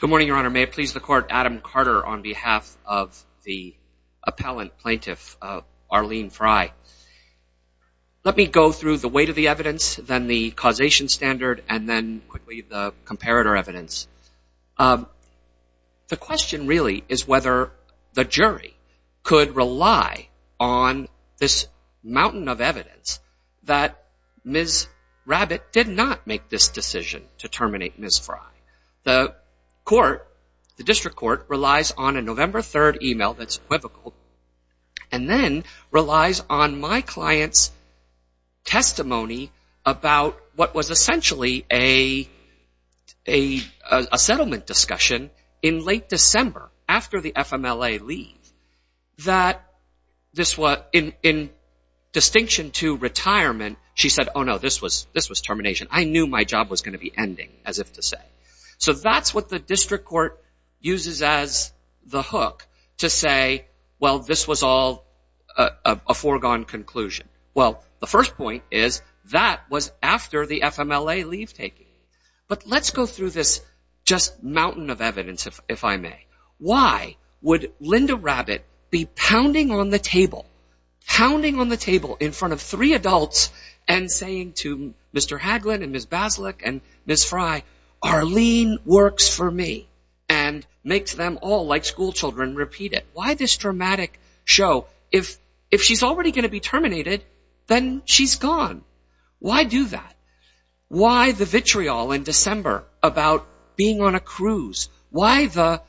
Good morning, Your Honor. May it please the Court, Adam Carter on behalf of the appellant plaintiff Arlene Fry. Let me go through the weight of the evidence, then the causation standard, and then quickly the comparator evidence. The question really is whether the jury could rely on this mountain of evidence that Ms. Rabbit did not make this decision to terminate Ms. Fry. The court, the district court, relies on a November 3rd email that's equivocal and then relies on my client's testimony about what was essentially a settlement discussion in late December after the FMLA leave. In distinction to retirement, she said, oh no, this was termination. I knew my job was going to be ending, as if to say. So that's what the district court uses as the hook to say, well, this was all a foregone conclusion. Well, the first point is that was after the FMLA leave taking. But let's go through this just mountain of evidence, if I may. Why would Linda Rabbit be pounding on the table, pounding on the table in front of three adults and saying to Mr. Haglin and Ms. Basilick and Ms. Fry, Arlene works for me. And makes them all, like school children, repeat it. Why this dramatic show? If she's already going to be terminated, then she's gone. Why do that? Why the vitriol in December about being on a cruise? Why the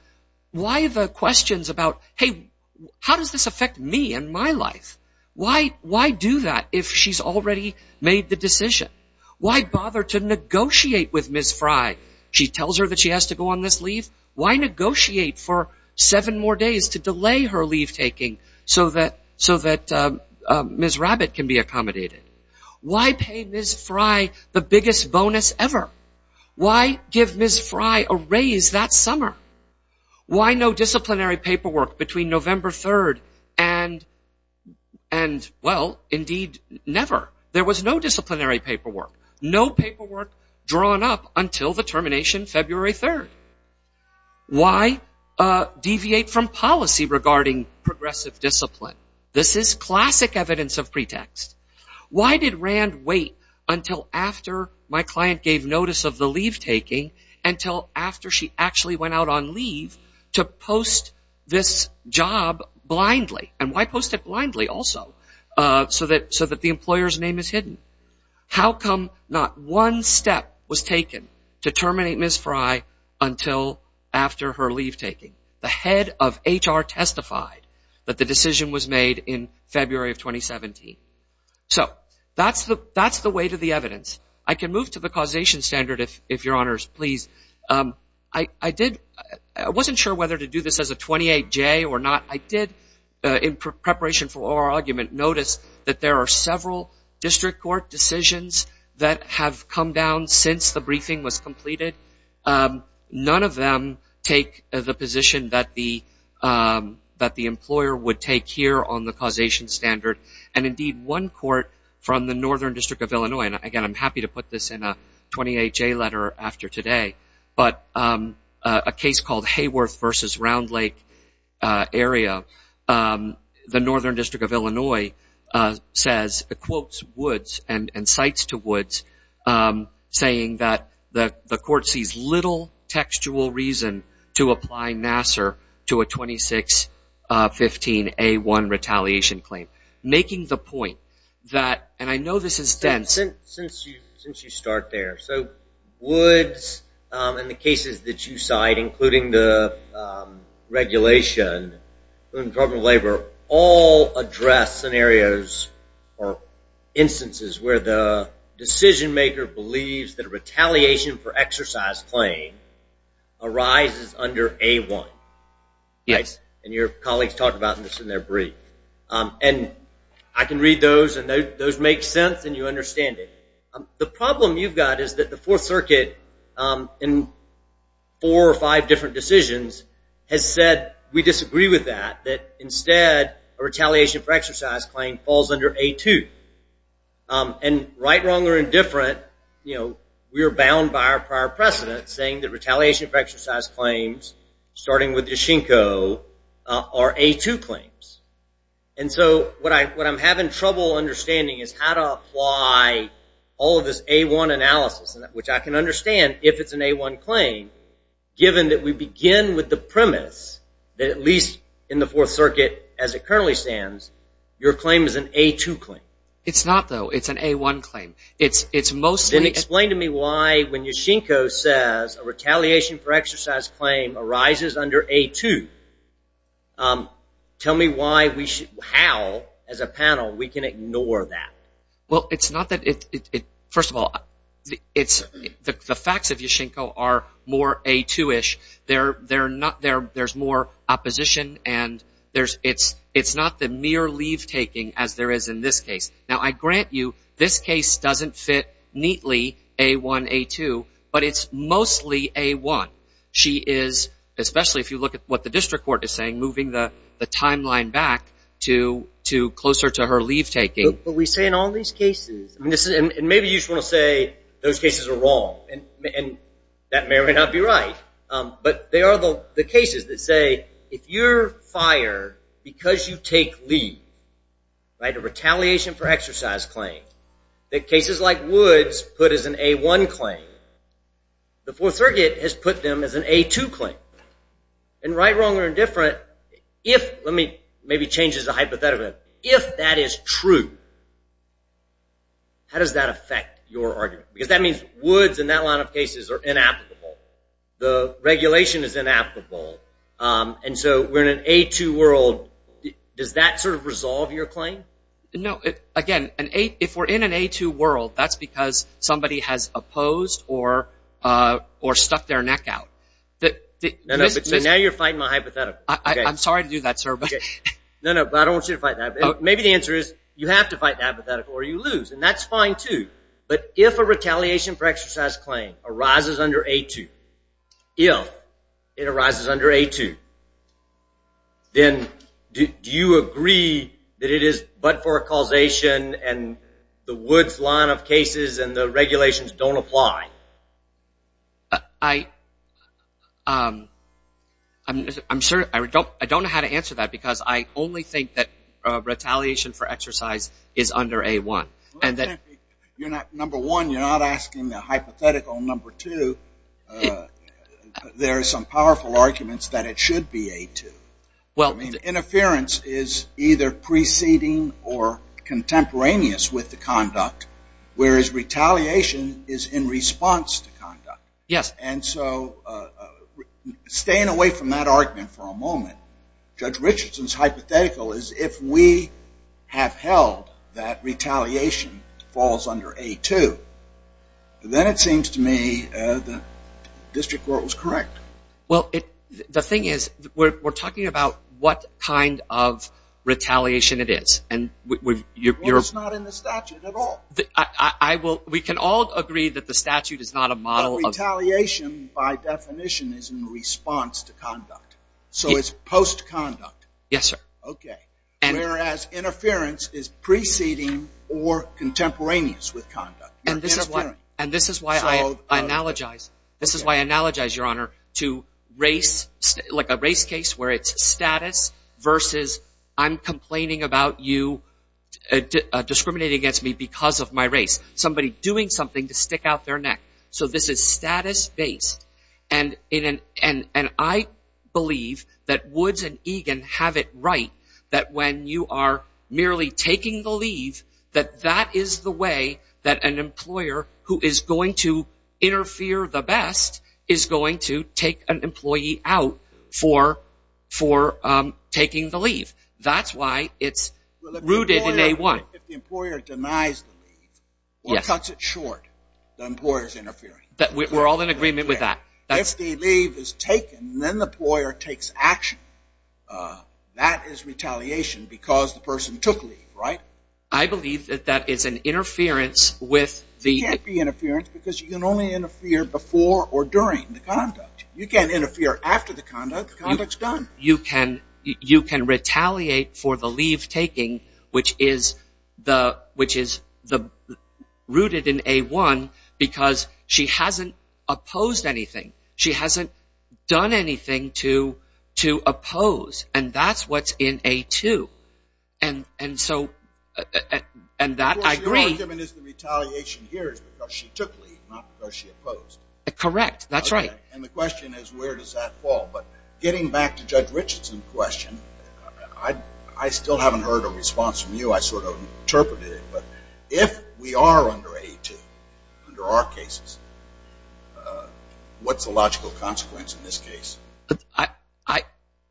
questions about, hey, how does this affect me and my life? Why do that if she's already made the decision? Why bother to negotiate with Ms. Fry? She tells her that she has to go on this leave. Why negotiate for seven more days to delay her leave taking so that Ms. Rabbit can be accommodated? Why pay Ms. Fry the biggest bonus ever? Why give Ms. Fry a raise that summer? Why no disciplinary paperwork between November 3rd and, well, indeed, never. There was no disciplinary paperwork. No paperwork drawn up until the termination February 3rd. Why deviate from policy regarding progressive discipline? This is classic evidence of pretext. Why did Rand wait until after my client gave notice of the leave taking, until after she actually went out on leave, to post this job blindly? And why post it blindly also? So that the employer's name is hidden. How come not one step was taken to terminate Ms. Fry until after her leave taking? The head of HR testified that the decision was made in February of 2017. So that's the weight of the evidence. I can move to the causation standard, if Your Honors please. I wasn't sure whether to do this as a 28-J or not. I did, in preparation for oral argument, notice that there are several district court decisions that have come down since the briefing was completed. None of them take the position that the employer would take here on the causation standard. And, indeed, one court from the Northern District of Illinois, and, again, I'm happy to put this in a 28-J letter after today, but a case called Hayworth v. Round Lake area, the Northern District of Illinois, says, quotes Woods and cites to Woods, saying that the court sees little textual reason to apply Nassar to a 2615A1 retaliation claim. Making the point that, and I know this is dense. Since you start there, so Woods and the cases that you cite, including the regulation in the Department of Labor, all address scenarios or instances where the decision maker believes that a retaliation for exercise claim arises under A1. Yes. And your colleagues talk about this in their brief. And I can read those, and those make sense, and you understand it. The problem you've got is that the Fourth Circuit in four or five different decisions has said we disagree with that, that, instead, a retaliation for exercise claim falls under A2. And right, wrong, or indifferent, you know, we are bound by our prior precedent saying that retaliation for exercise claims, starting with Yashinko, are A2 claims. And so what I'm having trouble understanding is how to apply all of this A1 analysis, which I can understand if it's an A1 claim, given that we begin with the premise that at least in the Fourth Circuit, as it currently stands, your claim is an A2 claim. It's not, though. It's an A1 claim. It's mostly Then explain to me why, when Yashinko says a retaliation for exercise claim arises under A2, tell me why we should, how, as a panel, we can ignore that. Well, it's not that, first of all, the facts of Yashinko are more A2-ish. There's more opposition, and it's not the mere leave-taking as there is in this case. Now, I grant you, this case doesn't fit neatly A1, A2, but it's mostly A1. She is, especially if you look at what the district court is saying, moving the timeline back to closer to her leave-taking. But we say in all these cases, and maybe you just want to say those cases are wrong, and that may or may not be right, but they are the cases that say if you're fired because you take leave, right, a retaliation for exercise claim, that cases like Woods put as an A1 claim, the Fourth Circuit has put them as an A2 claim. And right, wrong, or indifferent, if, let me maybe change this to a hypothetical, if that is true, how does that affect your argument? Because that means Woods and that line of cases are inapplicable. The regulation is inapplicable, and so we're in an A2 world. Does that sort of resolve your claim? No, again, if we're in an A2 world, that's because somebody has opposed or stuck their neck out. So now you're fighting my hypothetical. I'm sorry to do that, sir. No, no, but I don't want you to fight that. Maybe the answer is you have to fight the hypothetical or you lose, and that's fine too. But if a retaliation for exercise claim arises under A2, if it arises under A2, then do you agree that it is but for a causation and the Woods line of cases and the regulations don't apply? I'm sure, I don't know how to answer that because I only think that retaliation for exercise is under A1. Number one, you're not asking the hypothetical. Number two, there are some powerful arguments that it should be A2. Interference is either preceding or contemporaneous with the conduct, whereas retaliation is in response to conduct. Yes. And so staying away from that argument for a moment, Judge Richardson's hypothetical is if we have held that retaliation falls under A2, then it seems to me the district court was correct. Well, the thing is we're talking about what kind of retaliation it is. Well, it's not in the statute at all. We can all agree that the statute is not a model of retaliation. Retaliation by definition is in response to conduct, so it's post-conduct. Yes, sir. Okay. Whereas interference is preceding or contemporaneous with conduct. And this is why I analogize, Your Honor, to a race case where it's status versus I'm complaining about you discriminating against me because of my race. Somebody doing something to stick out their neck. So this is status-based. And I believe that Woods and Egan have it right that when you are merely taking the leave, that that is the way that an employer who is going to interfere the best is going to take an employee out for taking the leave. That's why it's rooted in A1. If the employer denies the leave or cuts it short, the employer is interfering. We're all in agreement with that. If the leave is taken and then the employer takes action, that is retaliation because the person took leave, right? I believe that that is an interference with the- It can't be interference because you can only interfere before or during the conduct. You can't interfere after the conduct. The conduct is done. You can retaliate for the leave-taking, which is rooted in A1 because she hasn't opposed anything. She hasn't done anything to oppose. And that's what's in A2. And so- And that I agree- Your argument is the retaliation here is because she took leave, not because she opposed. Correct. That's right. And the question is where does that fall? But getting back to Judge Richardson's question, I still haven't heard a response from you. I sort of interpreted it. But if we are under A2 under our cases, what's the logical consequence in this case?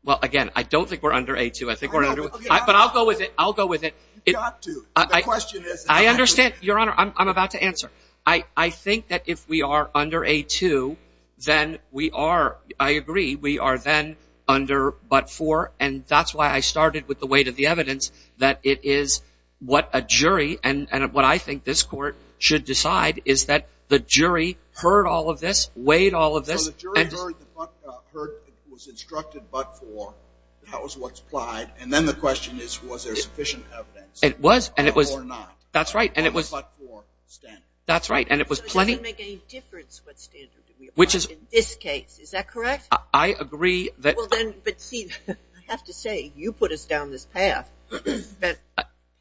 Well, again, I don't think we're under A2. I think we're under- But I'll go with it. I'll go with it. You've got to. I understand. Your Honor, I'm about to answer. I think that if we are under A2, then we are, I agree, we are then under but-for, and that's why I started with the weight of the evidence that it is what a jury, and what I think this Court should decide, is that the jury heard all of this, weighed all of this- So the jury heard, was instructed but-for. That was what's applied. And then the question is was there sufficient evidence or not? That's right. And it was- But-for standard. That's right, and it was plenty- So it doesn't make any difference what standard we apply in this case, is that correct? I agree that- Well, then, but see, I have to say, you put us down this path, spent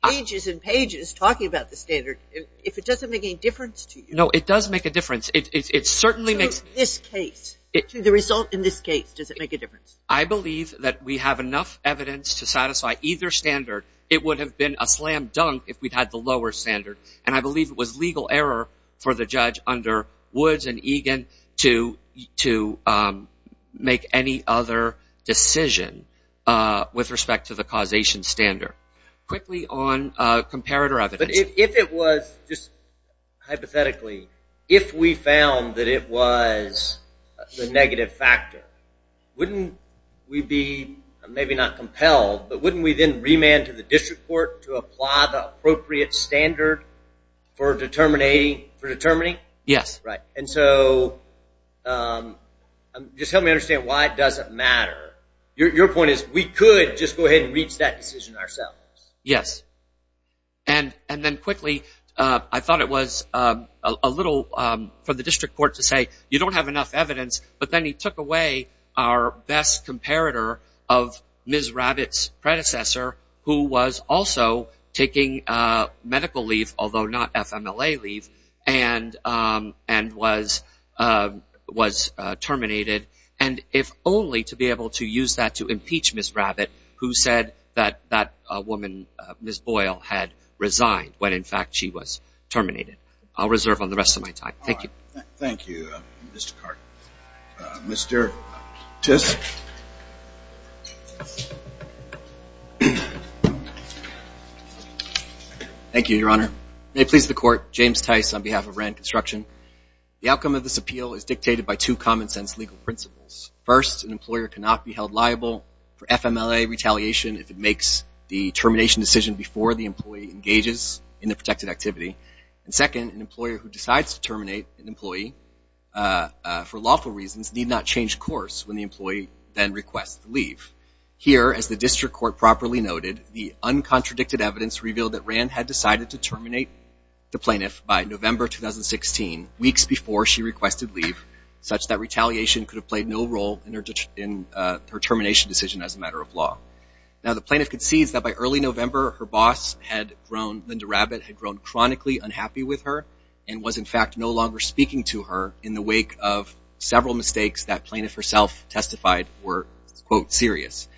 pages and pages talking about the standard. If it doesn't make any difference to you- No, it does make a difference. It certainly makes- So in this case, to the result in this case, does it make a difference? I believe that we have enough evidence to satisfy either standard. It would have been a slam dunk if we'd had the lower standard, and I believe it was legal error for the judge under Woods and Egan to make any other decision with respect to the causation standard. Quickly on comparator evidence. But if it was, just hypothetically, if we found that it was the negative factor, wouldn't we be, maybe not compelled, but wouldn't we then remand to the district court to apply the appropriate standard for determining? Yes. Right. And so just help me understand why it doesn't matter. Your point is we could just go ahead and reach that decision ourselves. Yes. And then quickly, I thought it was a little, for the district court to say, you don't have enough evidence, but then he took away our best comparator of Ms. Rabbit's predecessor, who was also taking medical leave, although not FMLA leave, and was terminated. And if only to be able to use that to impeach Ms. Rabbit, who said that that woman, Ms. Boyle, had resigned when, in fact, she was terminated. I'll reserve on the rest of my time. Thank you. Thank you, Mr. Carter. Mr. Tiske. Thank you, Your Honor. May it please the court, James Tiske on behalf of RAND Construction. The outcome of this appeal is dictated by two common sense legal principles. First, an employer cannot be held liable for FMLA retaliation if it makes the termination decision before the employee engages in the protected activity. And second, an employer who decides to terminate an employee for lawful reasons need not change course when the employee then requests to leave. Here, as the district court properly noted, the uncontradicted evidence revealed that RAND had decided to terminate the plaintiff by November 2016, weeks before she requested leave, such that retaliation could have played no role in her termination decision as a matter of law. Now, the plaintiff concedes that by early November, her boss had grown, Linda Rabbit, had grown chronically unhappy with her and was, in fact, no longer speaking to her in the wake of several mistakes that plaintiff herself testified were, quote, serious.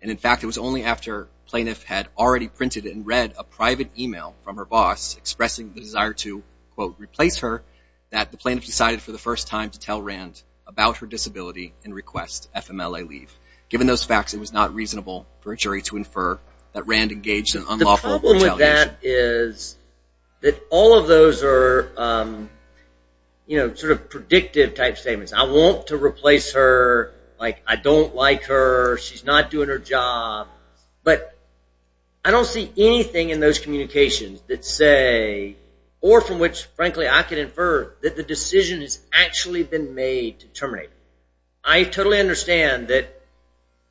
And, in fact, it was only after plaintiff had already printed and read a private email from her boss expressing the desire to, quote, replace her, that the plaintiff decided for the first time to tell RAND about her disability and request FMLA leave. Given those facts, it was not reasonable for a jury to infer that RAND engaged in unlawful retaliation. What I mean by that is that all of those are, you know, sort of predictive type statements. I want to replace her. Like, I don't like her. She's not doing her job. But I don't see anything in those communications that say, or from which, frankly, I can infer, that the decision has actually been made to terminate her. I totally understand that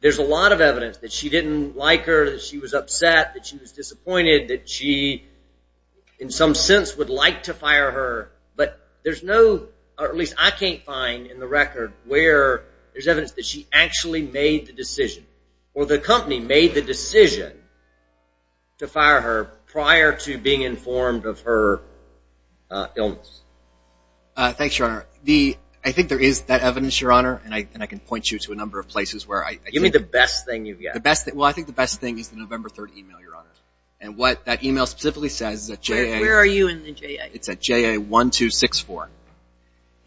there's a lot of evidence that she didn't like her, that she was upset, that she was disappointed, that she, in some sense, would like to fire her. But there's no, or at least I can't find in the record where there's evidence that she actually made the decision or the company made the decision to fire her prior to being informed of her illness. Thanks, Your Honor. I think there is that evidence, Your Honor, and I can point you to a number of places where I think. Give me the best thing you've got. Well, I think the best thing is the November 3rd email, Your Honor. And what that email specifically says is that J.A. Where are you in the J.A.? It's at J.A. 1264.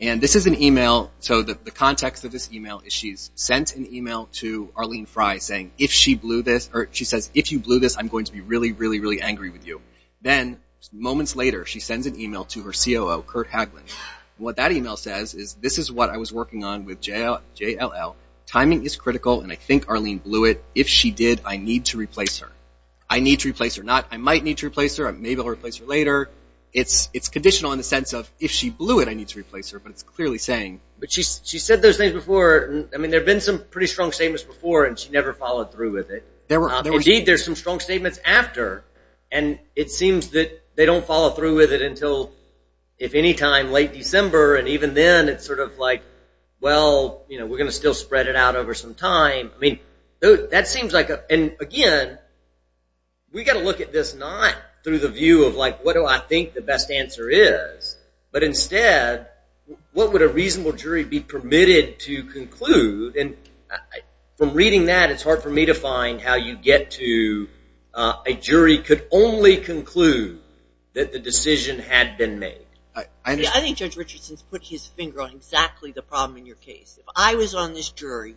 And this is an email. So the context of this email is she's sent an email to Arlene Frey saying, if she blew this, or she says, if you blew this, I'm going to be really, really, really angry with you. Then moments later, she sends an email to her COO, Kurt Hagelin. What that email says is, this is what I was working on with JLL. Timing is critical, and I think Arlene blew it. If she did, I need to replace her. I need to replace her. Not I might need to replace her. Maybe I'll replace her later. It's conditional in the sense of, if she blew it, I need to replace her. But it's clearly saying. But she said those things before. I mean, there have been some pretty strong statements before, and she never followed through with it. Indeed, there are some strong statements after. And it seems that they don't follow through with it until, if any time, late December. And even then, it's sort of like, well, we're going to still spread it out over some time. I mean, that seems like a – and, again, we've got to look at this not through the view of like, what do I think the best answer is, but instead, what would a reasonable jury be permitted to conclude? And from reading that, it's hard for me to find how you get to a jury could only conclude that the decision had been made. I think Judge Richardson's put his finger on exactly the problem in your case. If I was on this jury,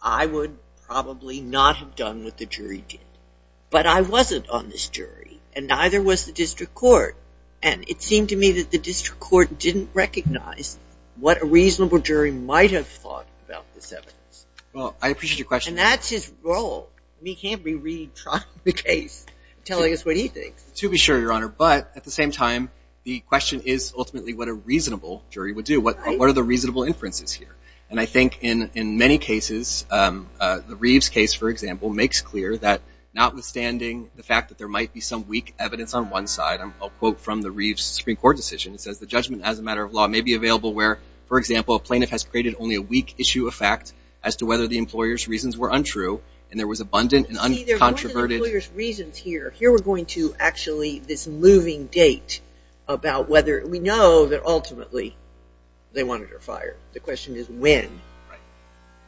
I would probably not have done what the jury did. But I wasn't on this jury, and neither was the district court. And it seemed to me that the district court didn't recognize what a reasonable jury might have thought about this evidence. Well, I appreciate your question. And that's his role. He can't be retrying the case and telling us what he thinks. To be sure, Your Honor. But at the same time, the question is ultimately what a reasonable jury would do. What are the reasonable inferences here? And I think in many cases, the Reeves case, for example, makes clear that notwithstanding the fact that there might be some weak evidence on one side, I'll quote from the Reeves Supreme Court decision. It says, the judgment as a matter of law may be available where, for example, a plaintiff has created only a weak issue of fact as to whether the employer's reasons were untrue, and there was abundant and uncontroverted – about whether we know that ultimately they wanted her fired. The question is when.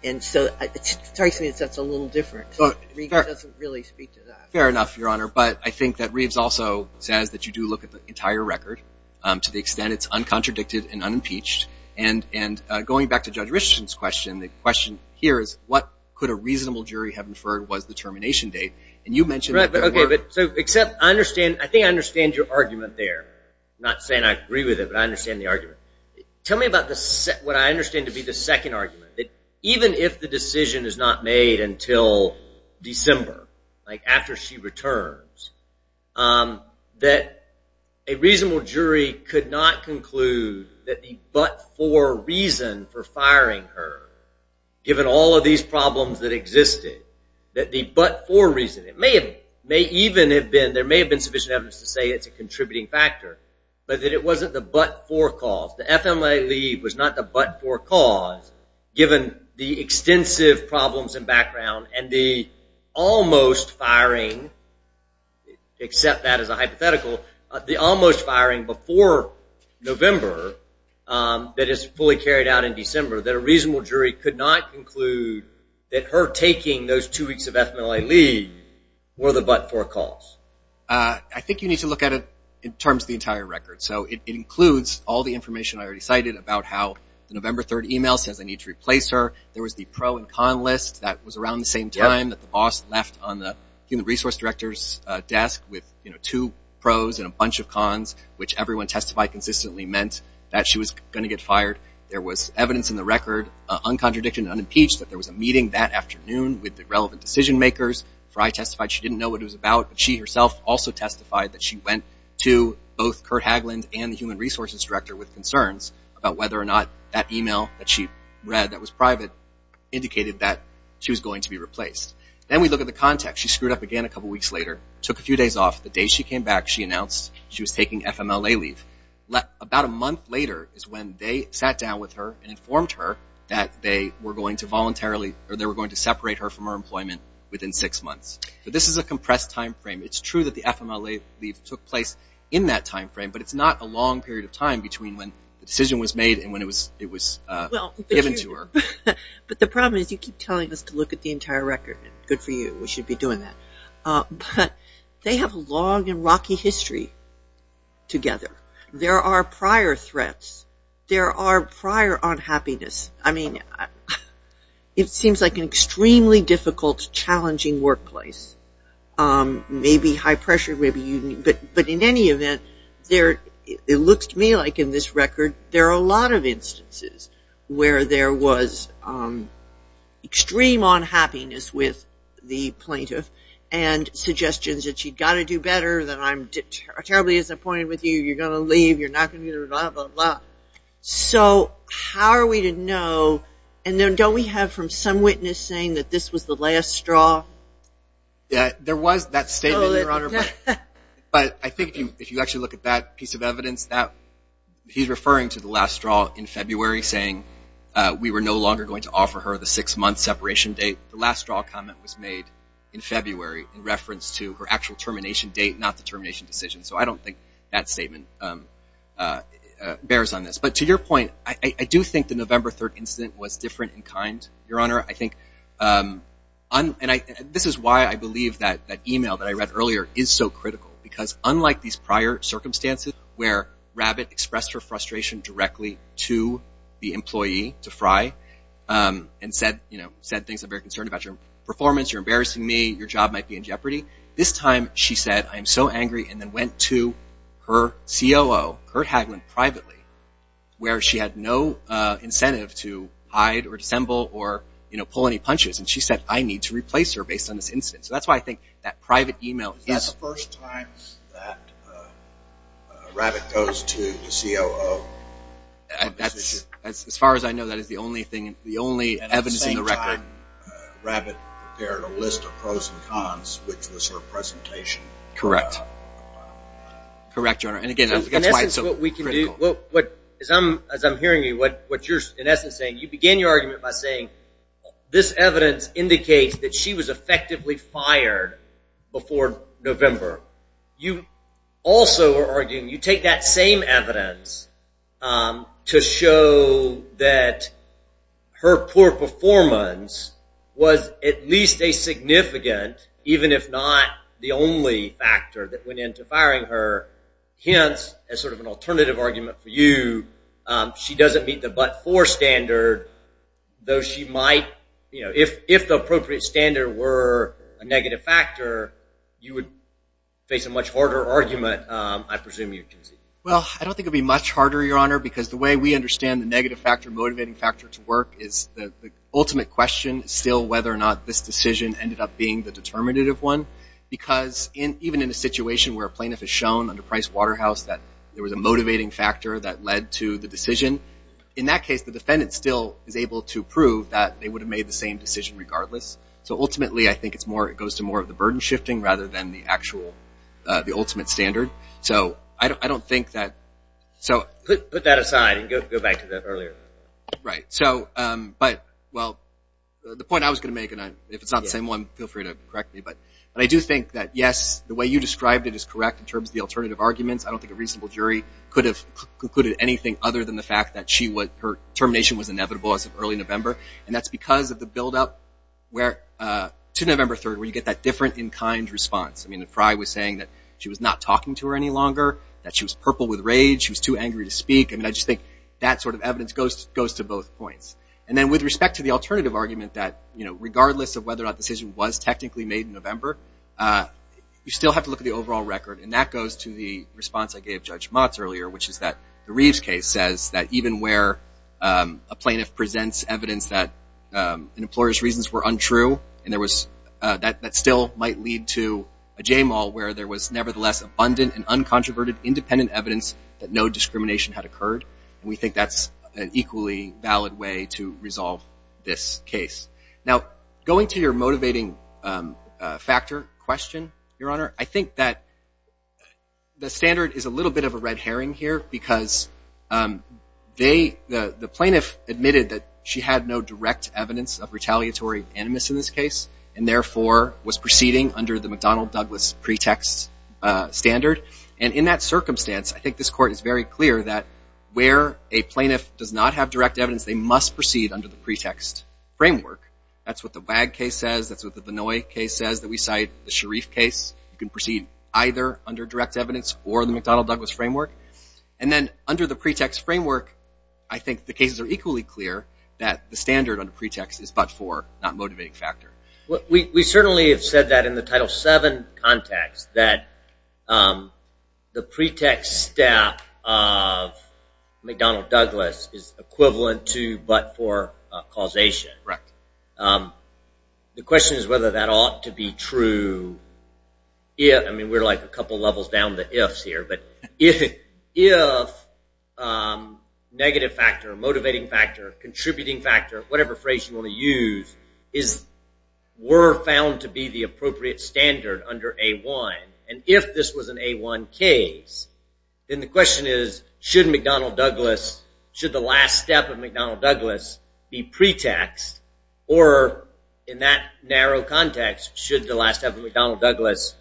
And so it strikes me that that's a little different. Reeves doesn't really speak to that. Fair enough, Your Honor. But I think that Reeves also says that you do look at the entire record to the extent it's uncontradicted and unimpeached. And going back to Judge Richardson's question, the question here is, what could a reasonable jury have inferred was the termination date? And you mentioned that there were. I think I understand your argument there. I'm not saying I agree with it, but I understand the argument. Tell me about what I understand to be the second argument, that even if the decision is not made until December, like after she returns, that a reasonable jury could not conclude that the but-for reason for firing her, given all of these problems that existed, that the but-for reason – it may even have been, there may have been sufficient evidence to say it's a contributing factor, but that it wasn't the but-for cause. The FMLA leave was not the but-for cause, given the extensive problems and background and the almost firing, except that as a hypothetical, the almost firing before November that is fully carried out in December, that a reasonable jury could not conclude that her taking those two weeks of FMLA leave were the but-for cause. I think you need to look at it in terms of the entire record. So it includes all the information I already cited about how the November 3rd email says I need to replace her. There was the pro and con list that was around the same time that the boss left on the human resource director's desk with two pros and a bunch of cons, which everyone testified consistently meant that she was going to get fired. There was evidence in the record, uncontradicted and unimpeached, that there was a meeting that afternoon with the relevant decision makers. Fry testified she didn't know what it was about. She herself also testified that she went to both Kurt Haglund and the human resources director with concerns about whether or not that email that she read that was private indicated that she was going to be replaced. Then we look at the context. She screwed up again a couple weeks later, took a few days off. The day she came back, she announced she was taking FMLA leave. About a month later is when they sat down with her and informed her that they were going to voluntarily or they were going to separate her from her employment within six months. So this is a compressed time frame. It's true that the FMLA leave took place in that time frame, but it's not a long period of time between when the decision was made and when it was given to her. But the problem is you keep telling us to look at the entire record. Good for you. We should be doing that. But they have a long and rocky history together. There are prior threats. There are prior unhappiness. I mean, it seems like an extremely difficult, challenging workplace. Maybe high pressure, but in any event, it looks to me like in this record there are a lot of instances where there was extreme unhappiness with the plaintiff and suggestions that you've got to do better, that I'm terribly disappointed with you, you're going to leave, you're not going to do blah, blah, blah. So how are we to know? And then don't we have from some witness saying that this was the last straw? There was that statement, Your Honor. But I think if you actually look at that piece of evidence, he's referring to the last straw in February saying we were no longer going to offer her the six-month separation date. The last straw comment was made in February in reference to her actual termination date, not the termination decision. So I don't think that statement bears on this. But to your point, I do think the November 3rd incident was different in kind, Your Honor. I think this is why I believe that email that I read earlier is so critical, because unlike these prior circumstances where Rabbit expressed her frustration directly to the employee, to Fry, and said things like, I'm very concerned about your performance, you're embarrassing me, your job might be in jeopardy. This time she said, I'm so angry, and then went to her COO, Kurt Hagelin, privately, where she had no incentive to hide or dissemble or pull any punches. And she said, I need to replace her based on this incident. So that's why I think that private email is – Is that the first time that Rabbit goes to the COO? As far as I know, that is the only evidence in the record. And at the same time, Rabbit prepared a list of pros and cons, which was her presentation. Correct. Correct, Your Honor. In essence, what we can do – as I'm hearing you, what you're in essence saying, you begin your argument by saying this evidence indicates that she was effectively fired before November. You also are arguing, you take that same evidence to show that her poor performance was at least a significant, even if not the only factor that went into firing her, hence as sort of an alternative argument for you, she doesn't meet the but-for standard, though she might, you know, if the appropriate standard were a negative factor, you would face a much harder argument, I presume you can see. Well, I don't think it would be much harder, Your Honor, because the way we understand the negative factor, motivating factor to work, is the ultimate question is still whether or not this decision ended up being the determinative one. Because even in a situation where a plaintiff has shown under Price Waterhouse that there was a motivating factor that led to the decision, in that case, the defendant still is able to prove that they would have made the same decision regardless. So ultimately, I think it's more – it goes to more of the burden shifting rather than the actual – the ultimate standard. So I don't think that – so – Put that aside and go back to that earlier. Right. So – but, well, the point I was going to make, and if it's not the same one, feel free to correct me, but I do think that, yes, the way you described it is correct in terms of the alternative arguments. I don't think a reasonable jury could have concluded anything other than the fact that she was – her termination was inevitable as of early November. And that's because of the buildup where – to November 3rd where you get that different in-kind response. I mean, that Fry was saying that she was not talking to her any longer, that she was purple with rage, she was too angry to speak. I mean, I just think that sort of evidence goes to both points. And then with respect to the alternative argument that, you know, regardless of whether or not the decision was technically made in November, you still have to look at the overall record, and that goes to the response I gave Judge Motz earlier, which is that the Reeves case says that even where a plaintiff presents evidence that an employer's reasons were untrue, and there was – that still might lead to a JMAL where there was nevertheless abundant and uncontroverted independent evidence that no discrimination had occurred, and we think that's an equally valid way to resolve this case. Now, going to your motivating factor question, Your Honor, I think that the standard is a little bit of a red herring here because they – the plaintiff admitted that she had no direct evidence of retaliatory animus in this case and therefore was proceeding under the McDonnell-Douglas pretext standard. And in that circumstance, I think this Court is very clear that where a plaintiff does not have direct evidence, they must proceed under the pretext framework. That's what the Wag case says. That's what the Vinoy case says that we cite, the Sharif case. You can proceed either under direct evidence or the McDonnell-Douglas framework. And then under the pretext framework, I think the cases are equally clear that the standard under pretext is but for, not motivating factor. We certainly have said that in the Title VII context, that the pretext step of McDonnell-Douglas is equivalent to but for causation. The question is whether that ought to be true. I mean, we're like a couple levels down the ifs here, but if negative factor, motivating factor, contributing factor, whatever phrase you want to use were found to be the appropriate standard under A-1, and if this was an A-1 case, then the question is should McDonnell-Douglas, should the last step of McDonnell-Douglas be pretext, or in that narrow context, should the last step of McDonnell-Douglas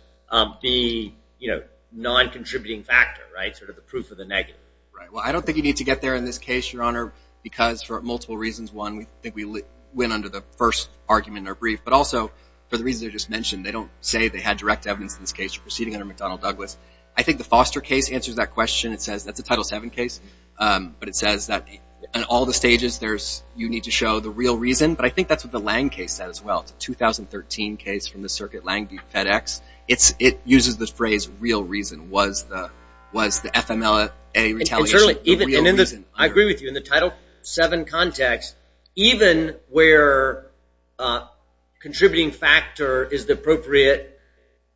be non-contributing factor, right, sort of the proof of the negative? Well, I don't think you need to get there in this case, Your Honor, because for multiple reasons. One, I think we went under the first argument in our brief, but also for the reasons I just mentioned, they don't say they had direct evidence in this case for proceeding under McDonnell-Douglas. I think the Foster case answers that question. It says that's a Title VII case, but it says that in all the stages you need to show the real reason, but I think that's what the Lange case said as well. It's a 2013 case from the circuit Lange v. FedEx. It uses the phrase real reason. Was the FMLA retaliation the real reason? I agree with you. In the Title VII context, even where contributing factor is the appropriate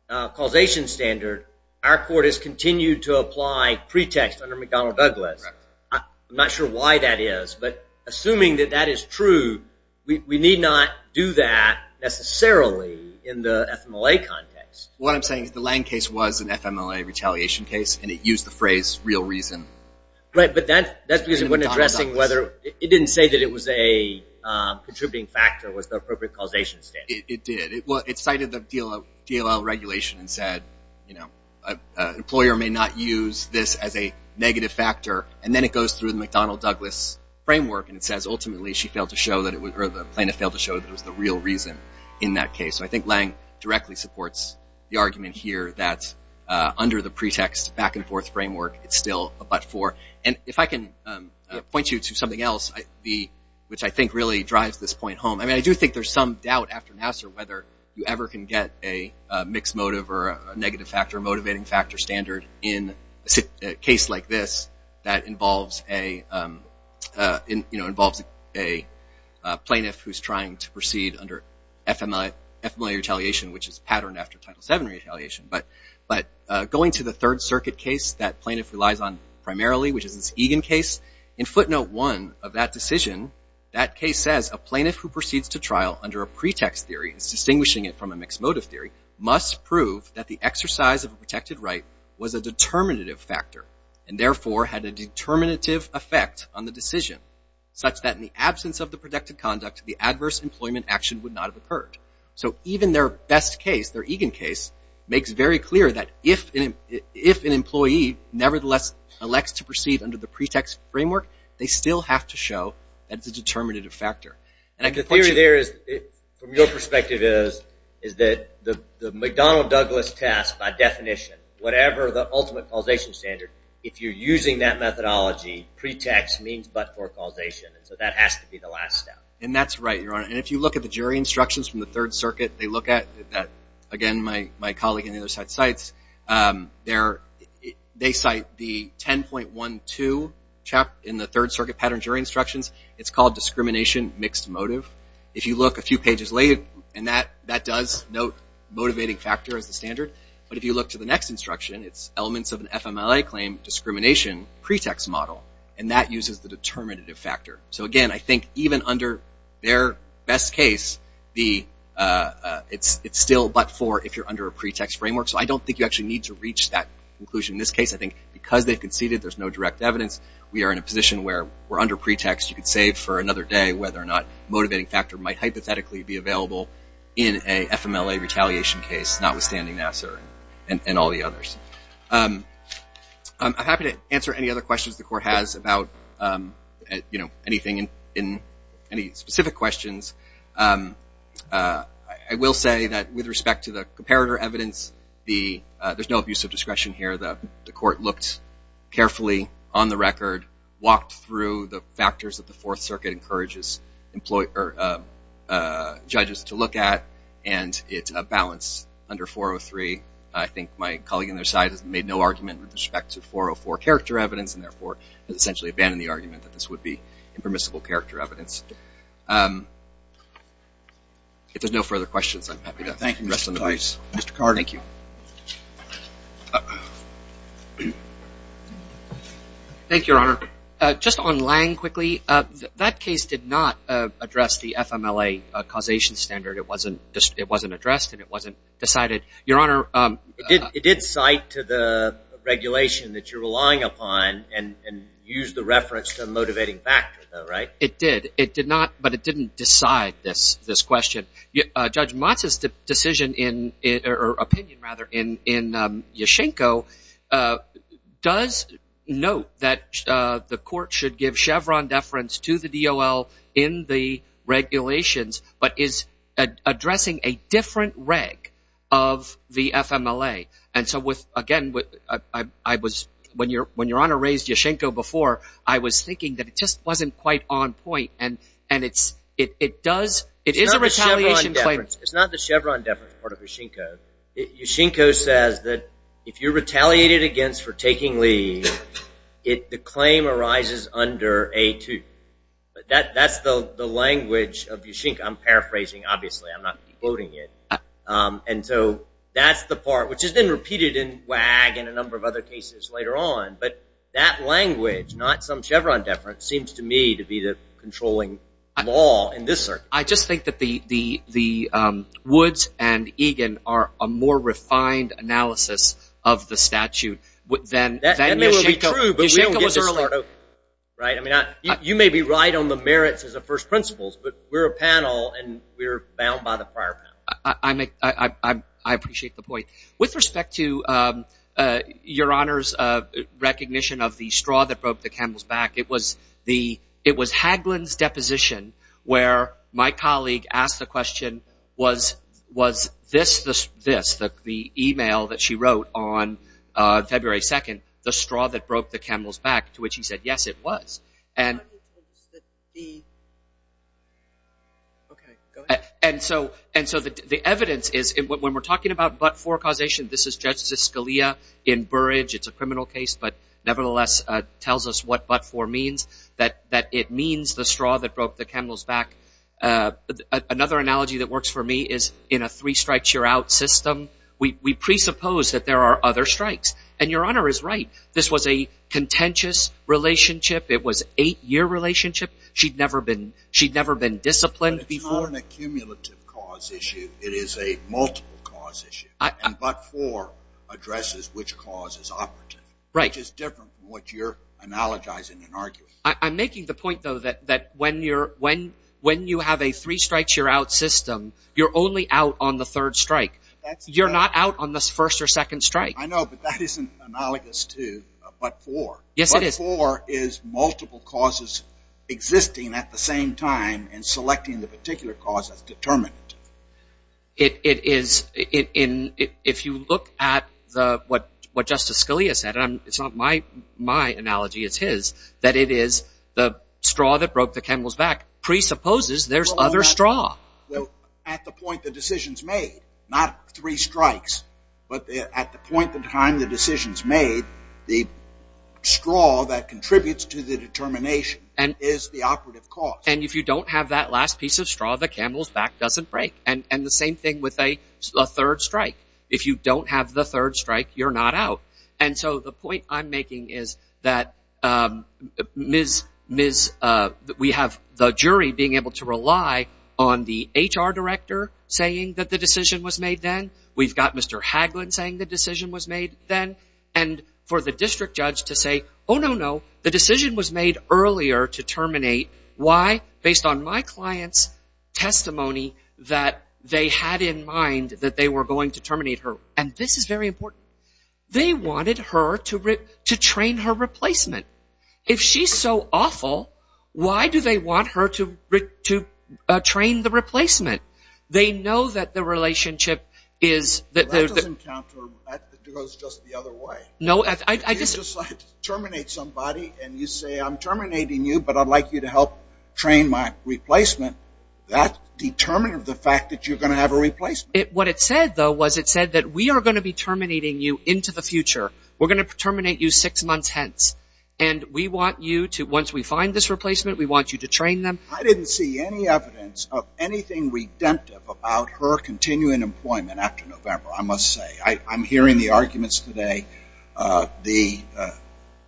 causation standard, our court has continued to apply pretext under McDonnell-Douglas. I'm not sure why that is, but assuming that that is true, we need not do that necessarily in the FMLA context. What I'm saying is the Lange case was an FMLA retaliation case, and it used the phrase real reason. But that's because it didn't say that it was a contributing factor was the appropriate causation standard. It did. It cited the DLL regulation and said an employer may not use this as a negative factor, and then it goes through the McDonnell-Douglas framework, and it says ultimately the plaintiff failed to show that it was the real reason in that case. I think Lange directly supports the argument here that under the pretext back-and-forth framework, it's still a but-for. And if I can point you to something else, which I think really drives this point home, I do think there's some doubt after Nassar whether you ever can get a mixed motive or a negative factor or motivating factor standard in a case like this that involves a plaintiff who's trying to proceed under FMLA retaliation, which is patterned after Title VII retaliation. But going to the Third Circuit case that plaintiff relies on primarily, which is this Egan case, in footnote one of that decision, that case says a plaintiff who proceeds to trial under a pretext theory, distinguishing it from a mixed motive theory, must prove that the exercise of a protected right was a determinative factor and therefore had a determinative effect on the decision, such that in the absence of the protected conduct, the adverse employment action would not have occurred. So even their best case, their Egan case, makes very clear that if an employee nevertheless elects to proceed under the pretext framework, they still have to show that it's a determinative factor. And I can point you to... The theory there, from your perspective, is that the McDonnell-Douglas test, by definition, whatever the ultimate causation standard, if you're using that methodology, pretext means but-for causation. So that has to be the last step. And that's right, Your Honor. And if you look at the jury instructions from the Third Circuit, they look at that. Again, my colleague in the other side cites. They cite the 10.12 in the Third Circuit pattern jury instructions. It's called discrimination mixed motive. If you look a few pages later, and that does note motivating factor as the standard. But if you look to the next instruction, it's elements of an FMLA claim discrimination pretext model. And that uses the determinative factor. So again, I think even under their best case, it's still but-for if you're under a pretext framework. So I don't think you actually need to reach that conclusion. In this case, I think because they've conceded, there's no direct evidence. We are in a position where we're under pretext. You could save for another day whether or not motivating factor might hypothetically be available in a FMLA retaliation case, notwithstanding Nassar and all the others. I'm happy to answer any other questions the court has about anything in any specific questions. I will say that with respect to the comparator evidence, there's no abuse of discretion here. The court looked carefully on the record, walked through the factors that the Fourth Circuit encourages judges to look at, and it's a balance under 403. I think my colleague on their side has made no argument with respect to 404 character evidence and therefore has essentially abandoned the argument that this would be impermissible character evidence. If there's no further questions, I'm happy to address them. Thank you, Mr. Tice. Mr. Carter. Thank you. Thank you, Your Honor. Just on Lange quickly, that case did not address the FMLA causation standard. It wasn't addressed and it wasn't decided. Your Honor. It did cite to the regulation that you're relying upon and use the reference to a motivating factor, right? It did. It did not, but it didn't decide this question. Judge Motz's decision or opinion, rather, in Yashchenko does note that the court should give Chevron deference to the DOL in the regulations but is addressing a different reg of the FMLA. And so, again, when Your Honor raised Yashchenko before, I was thinking that it just wasn't quite on point. It is a retaliation claim. It's not the Chevron deference part of Yashchenko. Yashchenko says that if you're retaliated against for taking leave, the claim arises under A2. That's the language of Yashchenko. I'm paraphrasing, obviously. I'm not quoting it. And so that's the part, which has been repeated in WAG and a number of other cases later on. But that language, not some Chevron deference, seems to me to be the controlling law in this circuit. I just think that the Woods and Egan are a more refined analysis of the statute than Yashchenko. You may be right on the merits as the first principles, but we're a panel and we're bound by the prior panel. I appreciate the point. With respect to Your Honor's recognition of the straw that broke the camel's back, it was Hagelin's deposition where my colleague asked the question, was this, the e-mail that she wrote on February 2nd, the straw that broke the camel's back, to which he said, yes, it was. And so the evidence is when we're talking about but-for causation, this is Justice Scalia in Burridge. It's a criminal case, but nevertheless tells us what but-for means, that it means the straw that broke the camel's back. Another analogy that works for me is in a three-strikes-you're-out system, we presuppose that there are other strikes. And Your Honor is right. This was a contentious relationship. It was an eight-year relationship. She'd never been disciplined before. But it's not an accumulative cause issue. It is a multiple cause issue. And but-for addresses which cause is operative, which is different from what you're analogizing and arguing. I'm making the point, though, that when you have a three-strikes-you're-out system, you're only out on the third strike. You're not out on the first or second strike. I know, but that isn't analogous to a but-for. Yes, it is. But-for is multiple causes existing at the same time and selecting the particular cause as determinant. It is-if you look at what Justice Scalia said, and it's not my analogy, it's his, that it is the straw that broke the camel's back presupposes there's other straw. Well, at the point the decision's made, not three strikes, but at the point in time the decision's made, the straw that contributes to the determination is the operative cause. And if you don't have that last piece of straw, the camel's back doesn't break. And the same thing with a third strike. If you don't have the third strike, you're not out. And so the point I'm making is that Ms. We have the jury being able to rely on the HR director saying that the decision was made then. We've got Mr. Hagelin saying the decision was made then. And for the district judge to say, oh, no, no, the decision was made earlier to terminate. Why? Based on my client's testimony that they had in mind that they were going to terminate her. And this is very important. They wanted her to train her replacement. If she's so awful, why do they want her to train the replacement? They know that the relationship is- That goes just the other way. If you decide to terminate somebody and you say, I'm terminating you, but I'd like you to help train my replacement, that determines the fact that you're going to have a replacement. What it said, though, was it said that we are going to be terminating you into the future. We're going to terminate you six months hence. And we want you to, once we find this replacement, we want you to train them. I didn't see any evidence of anything redemptive about her continuing employment after November, I must say. I'm hearing the arguments today. The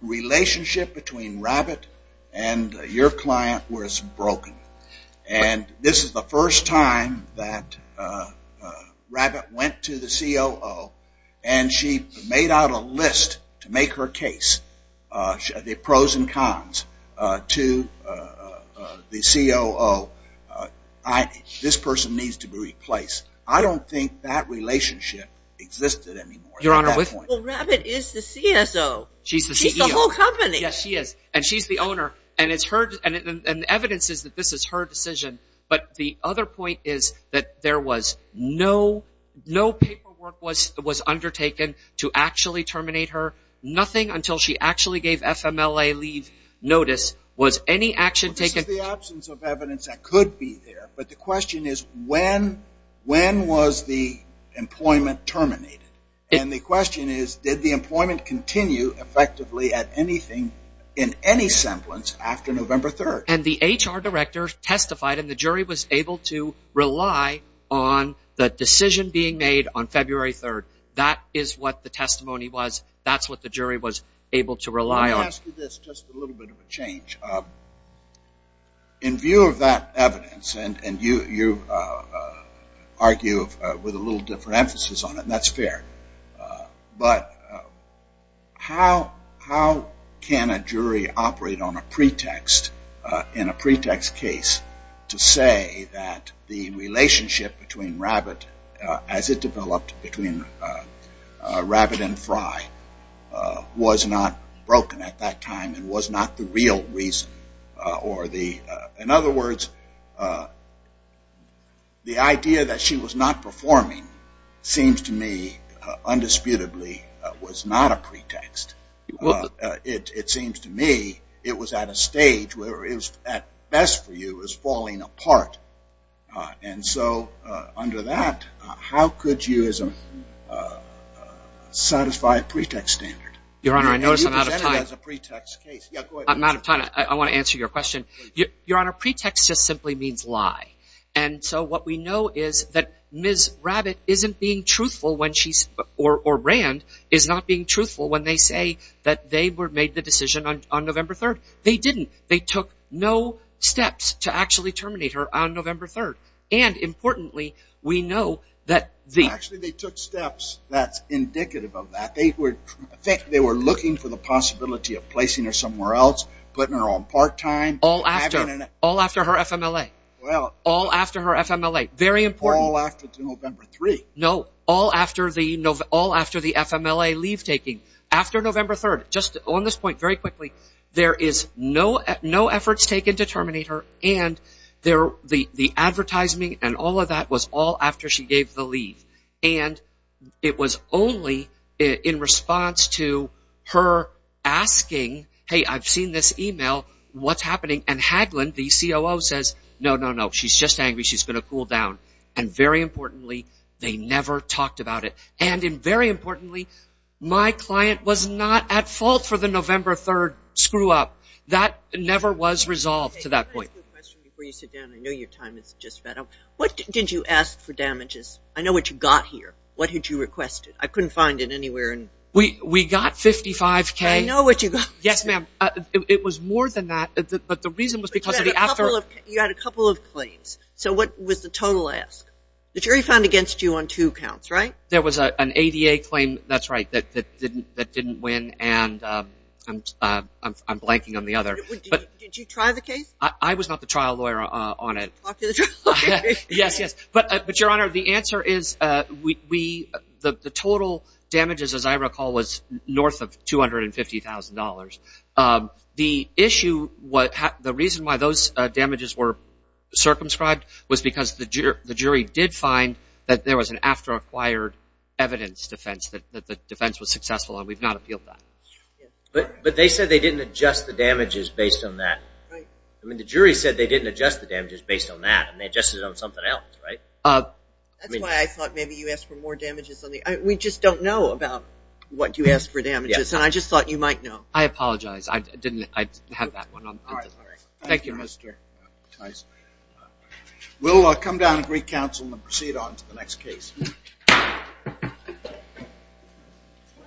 relationship between Rabbit and your client was broken. And this is the first time that Rabbit went to the COO and she made out a list to make her case. The pros and cons to the COO. This person needs to be replaced. I don't think that relationship existed anymore at that point. Well, Rabbit is the CSO. She's the CEO. She's the whole company. Yes, she is. And she's the owner. And the evidence is that this is her decision. But the other point is that there was no paperwork was undertaken to actually terminate her. Nothing until she actually gave FMLA leave notice was any action taken. This is the absence of evidence that could be there. But the question is, when was the employment terminated? And the question is, did the employment continue effectively at anything in any semblance after November 3rd? And the HR director testified and the jury was able to rely on the decision being made on February 3rd. That is what the testimony was. That's what the jury was able to rely on. Let me ask you this, just a little bit of a change. In view of that evidence, and you argue with a little different emphasis on it, and that's fair. But how can a jury operate on a pretext, in a pretext case, to say that the relationship between Rabbit, as it developed between Rabbit and Fry, was not broken at that time and was not the real reason? In other words, the idea that she was not performing seems to me, undisputably, was not a pretext. It seems to me it was at a stage where it was, at best for you, was falling apart. And so under that, how could you satisfy a pretext standard? Your Honor, I notice I'm out of time. You presented it as a pretext case. Yeah, go ahead. I'm out of time. I want to answer your question. Your Honor, pretext just simply means lie. And so what we know is that Ms. Rabbit isn't being truthful when she's, or Rand, is not being truthful when they say that they made the decision on November 3rd. They didn't. They took no steps to actually terminate her on November 3rd. And importantly, we know that the… Actually, they took steps that's indicative of that. They were looking for the possibility of placing her somewhere else, putting her on part-time. All after her FMLA. Well… All after her FMLA. Very important. All after November 3rd. No. All after the FMLA leave-taking. After November 3rd. Just on this point, very quickly. There is no efforts taken to terminate her, and the advertisement and all of that was all after she gave the leave. And it was only in response to her asking, hey, I've seen this email. What's happening? And Hagland, the COO, says, no, no, no. She's just angry. She's going to cool down. And very importantly, they never talked about it. And very importantly, my client was not at fault for the November 3rd screw-up. That never was resolved to that point. Can I ask you a question before you sit down? I know your time is just about up. What did you ask for damages? I know what you got here. What had you requested? I couldn't find it anywhere. We got 55K. I know what you got. Yes, ma'am. It was more than that. But the reason was because of the after… You had a couple of claims. So what was the total ask? The jury found against you on two counts, right? There was an ADA claim, that's right, that didn't win, and I'm blanking on the other. Did you try the case? I was not the trial lawyer on it. Talk to the trial lawyer. Yes, yes. But, Your Honor, the answer is the total damages, as I recall, was north of $250,000. The issue, the reason why those damages were circumscribed was because the jury did find that there was an after-acquired evidence defense that the defense was successful, and we've not appealed that. But they said they didn't adjust the damages based on that. Right. I mean, the jury said they didn't adjust the damages based on that, and they adjusted it on something else, right? That's why I thought maybe you asked for more damages. We just don't know about what you asked for damages, and I just thought you might know. I apologize. I didn't have that one. Thank you, Mr. Tice. We'll come down to Greek Council and proceed on to the next case.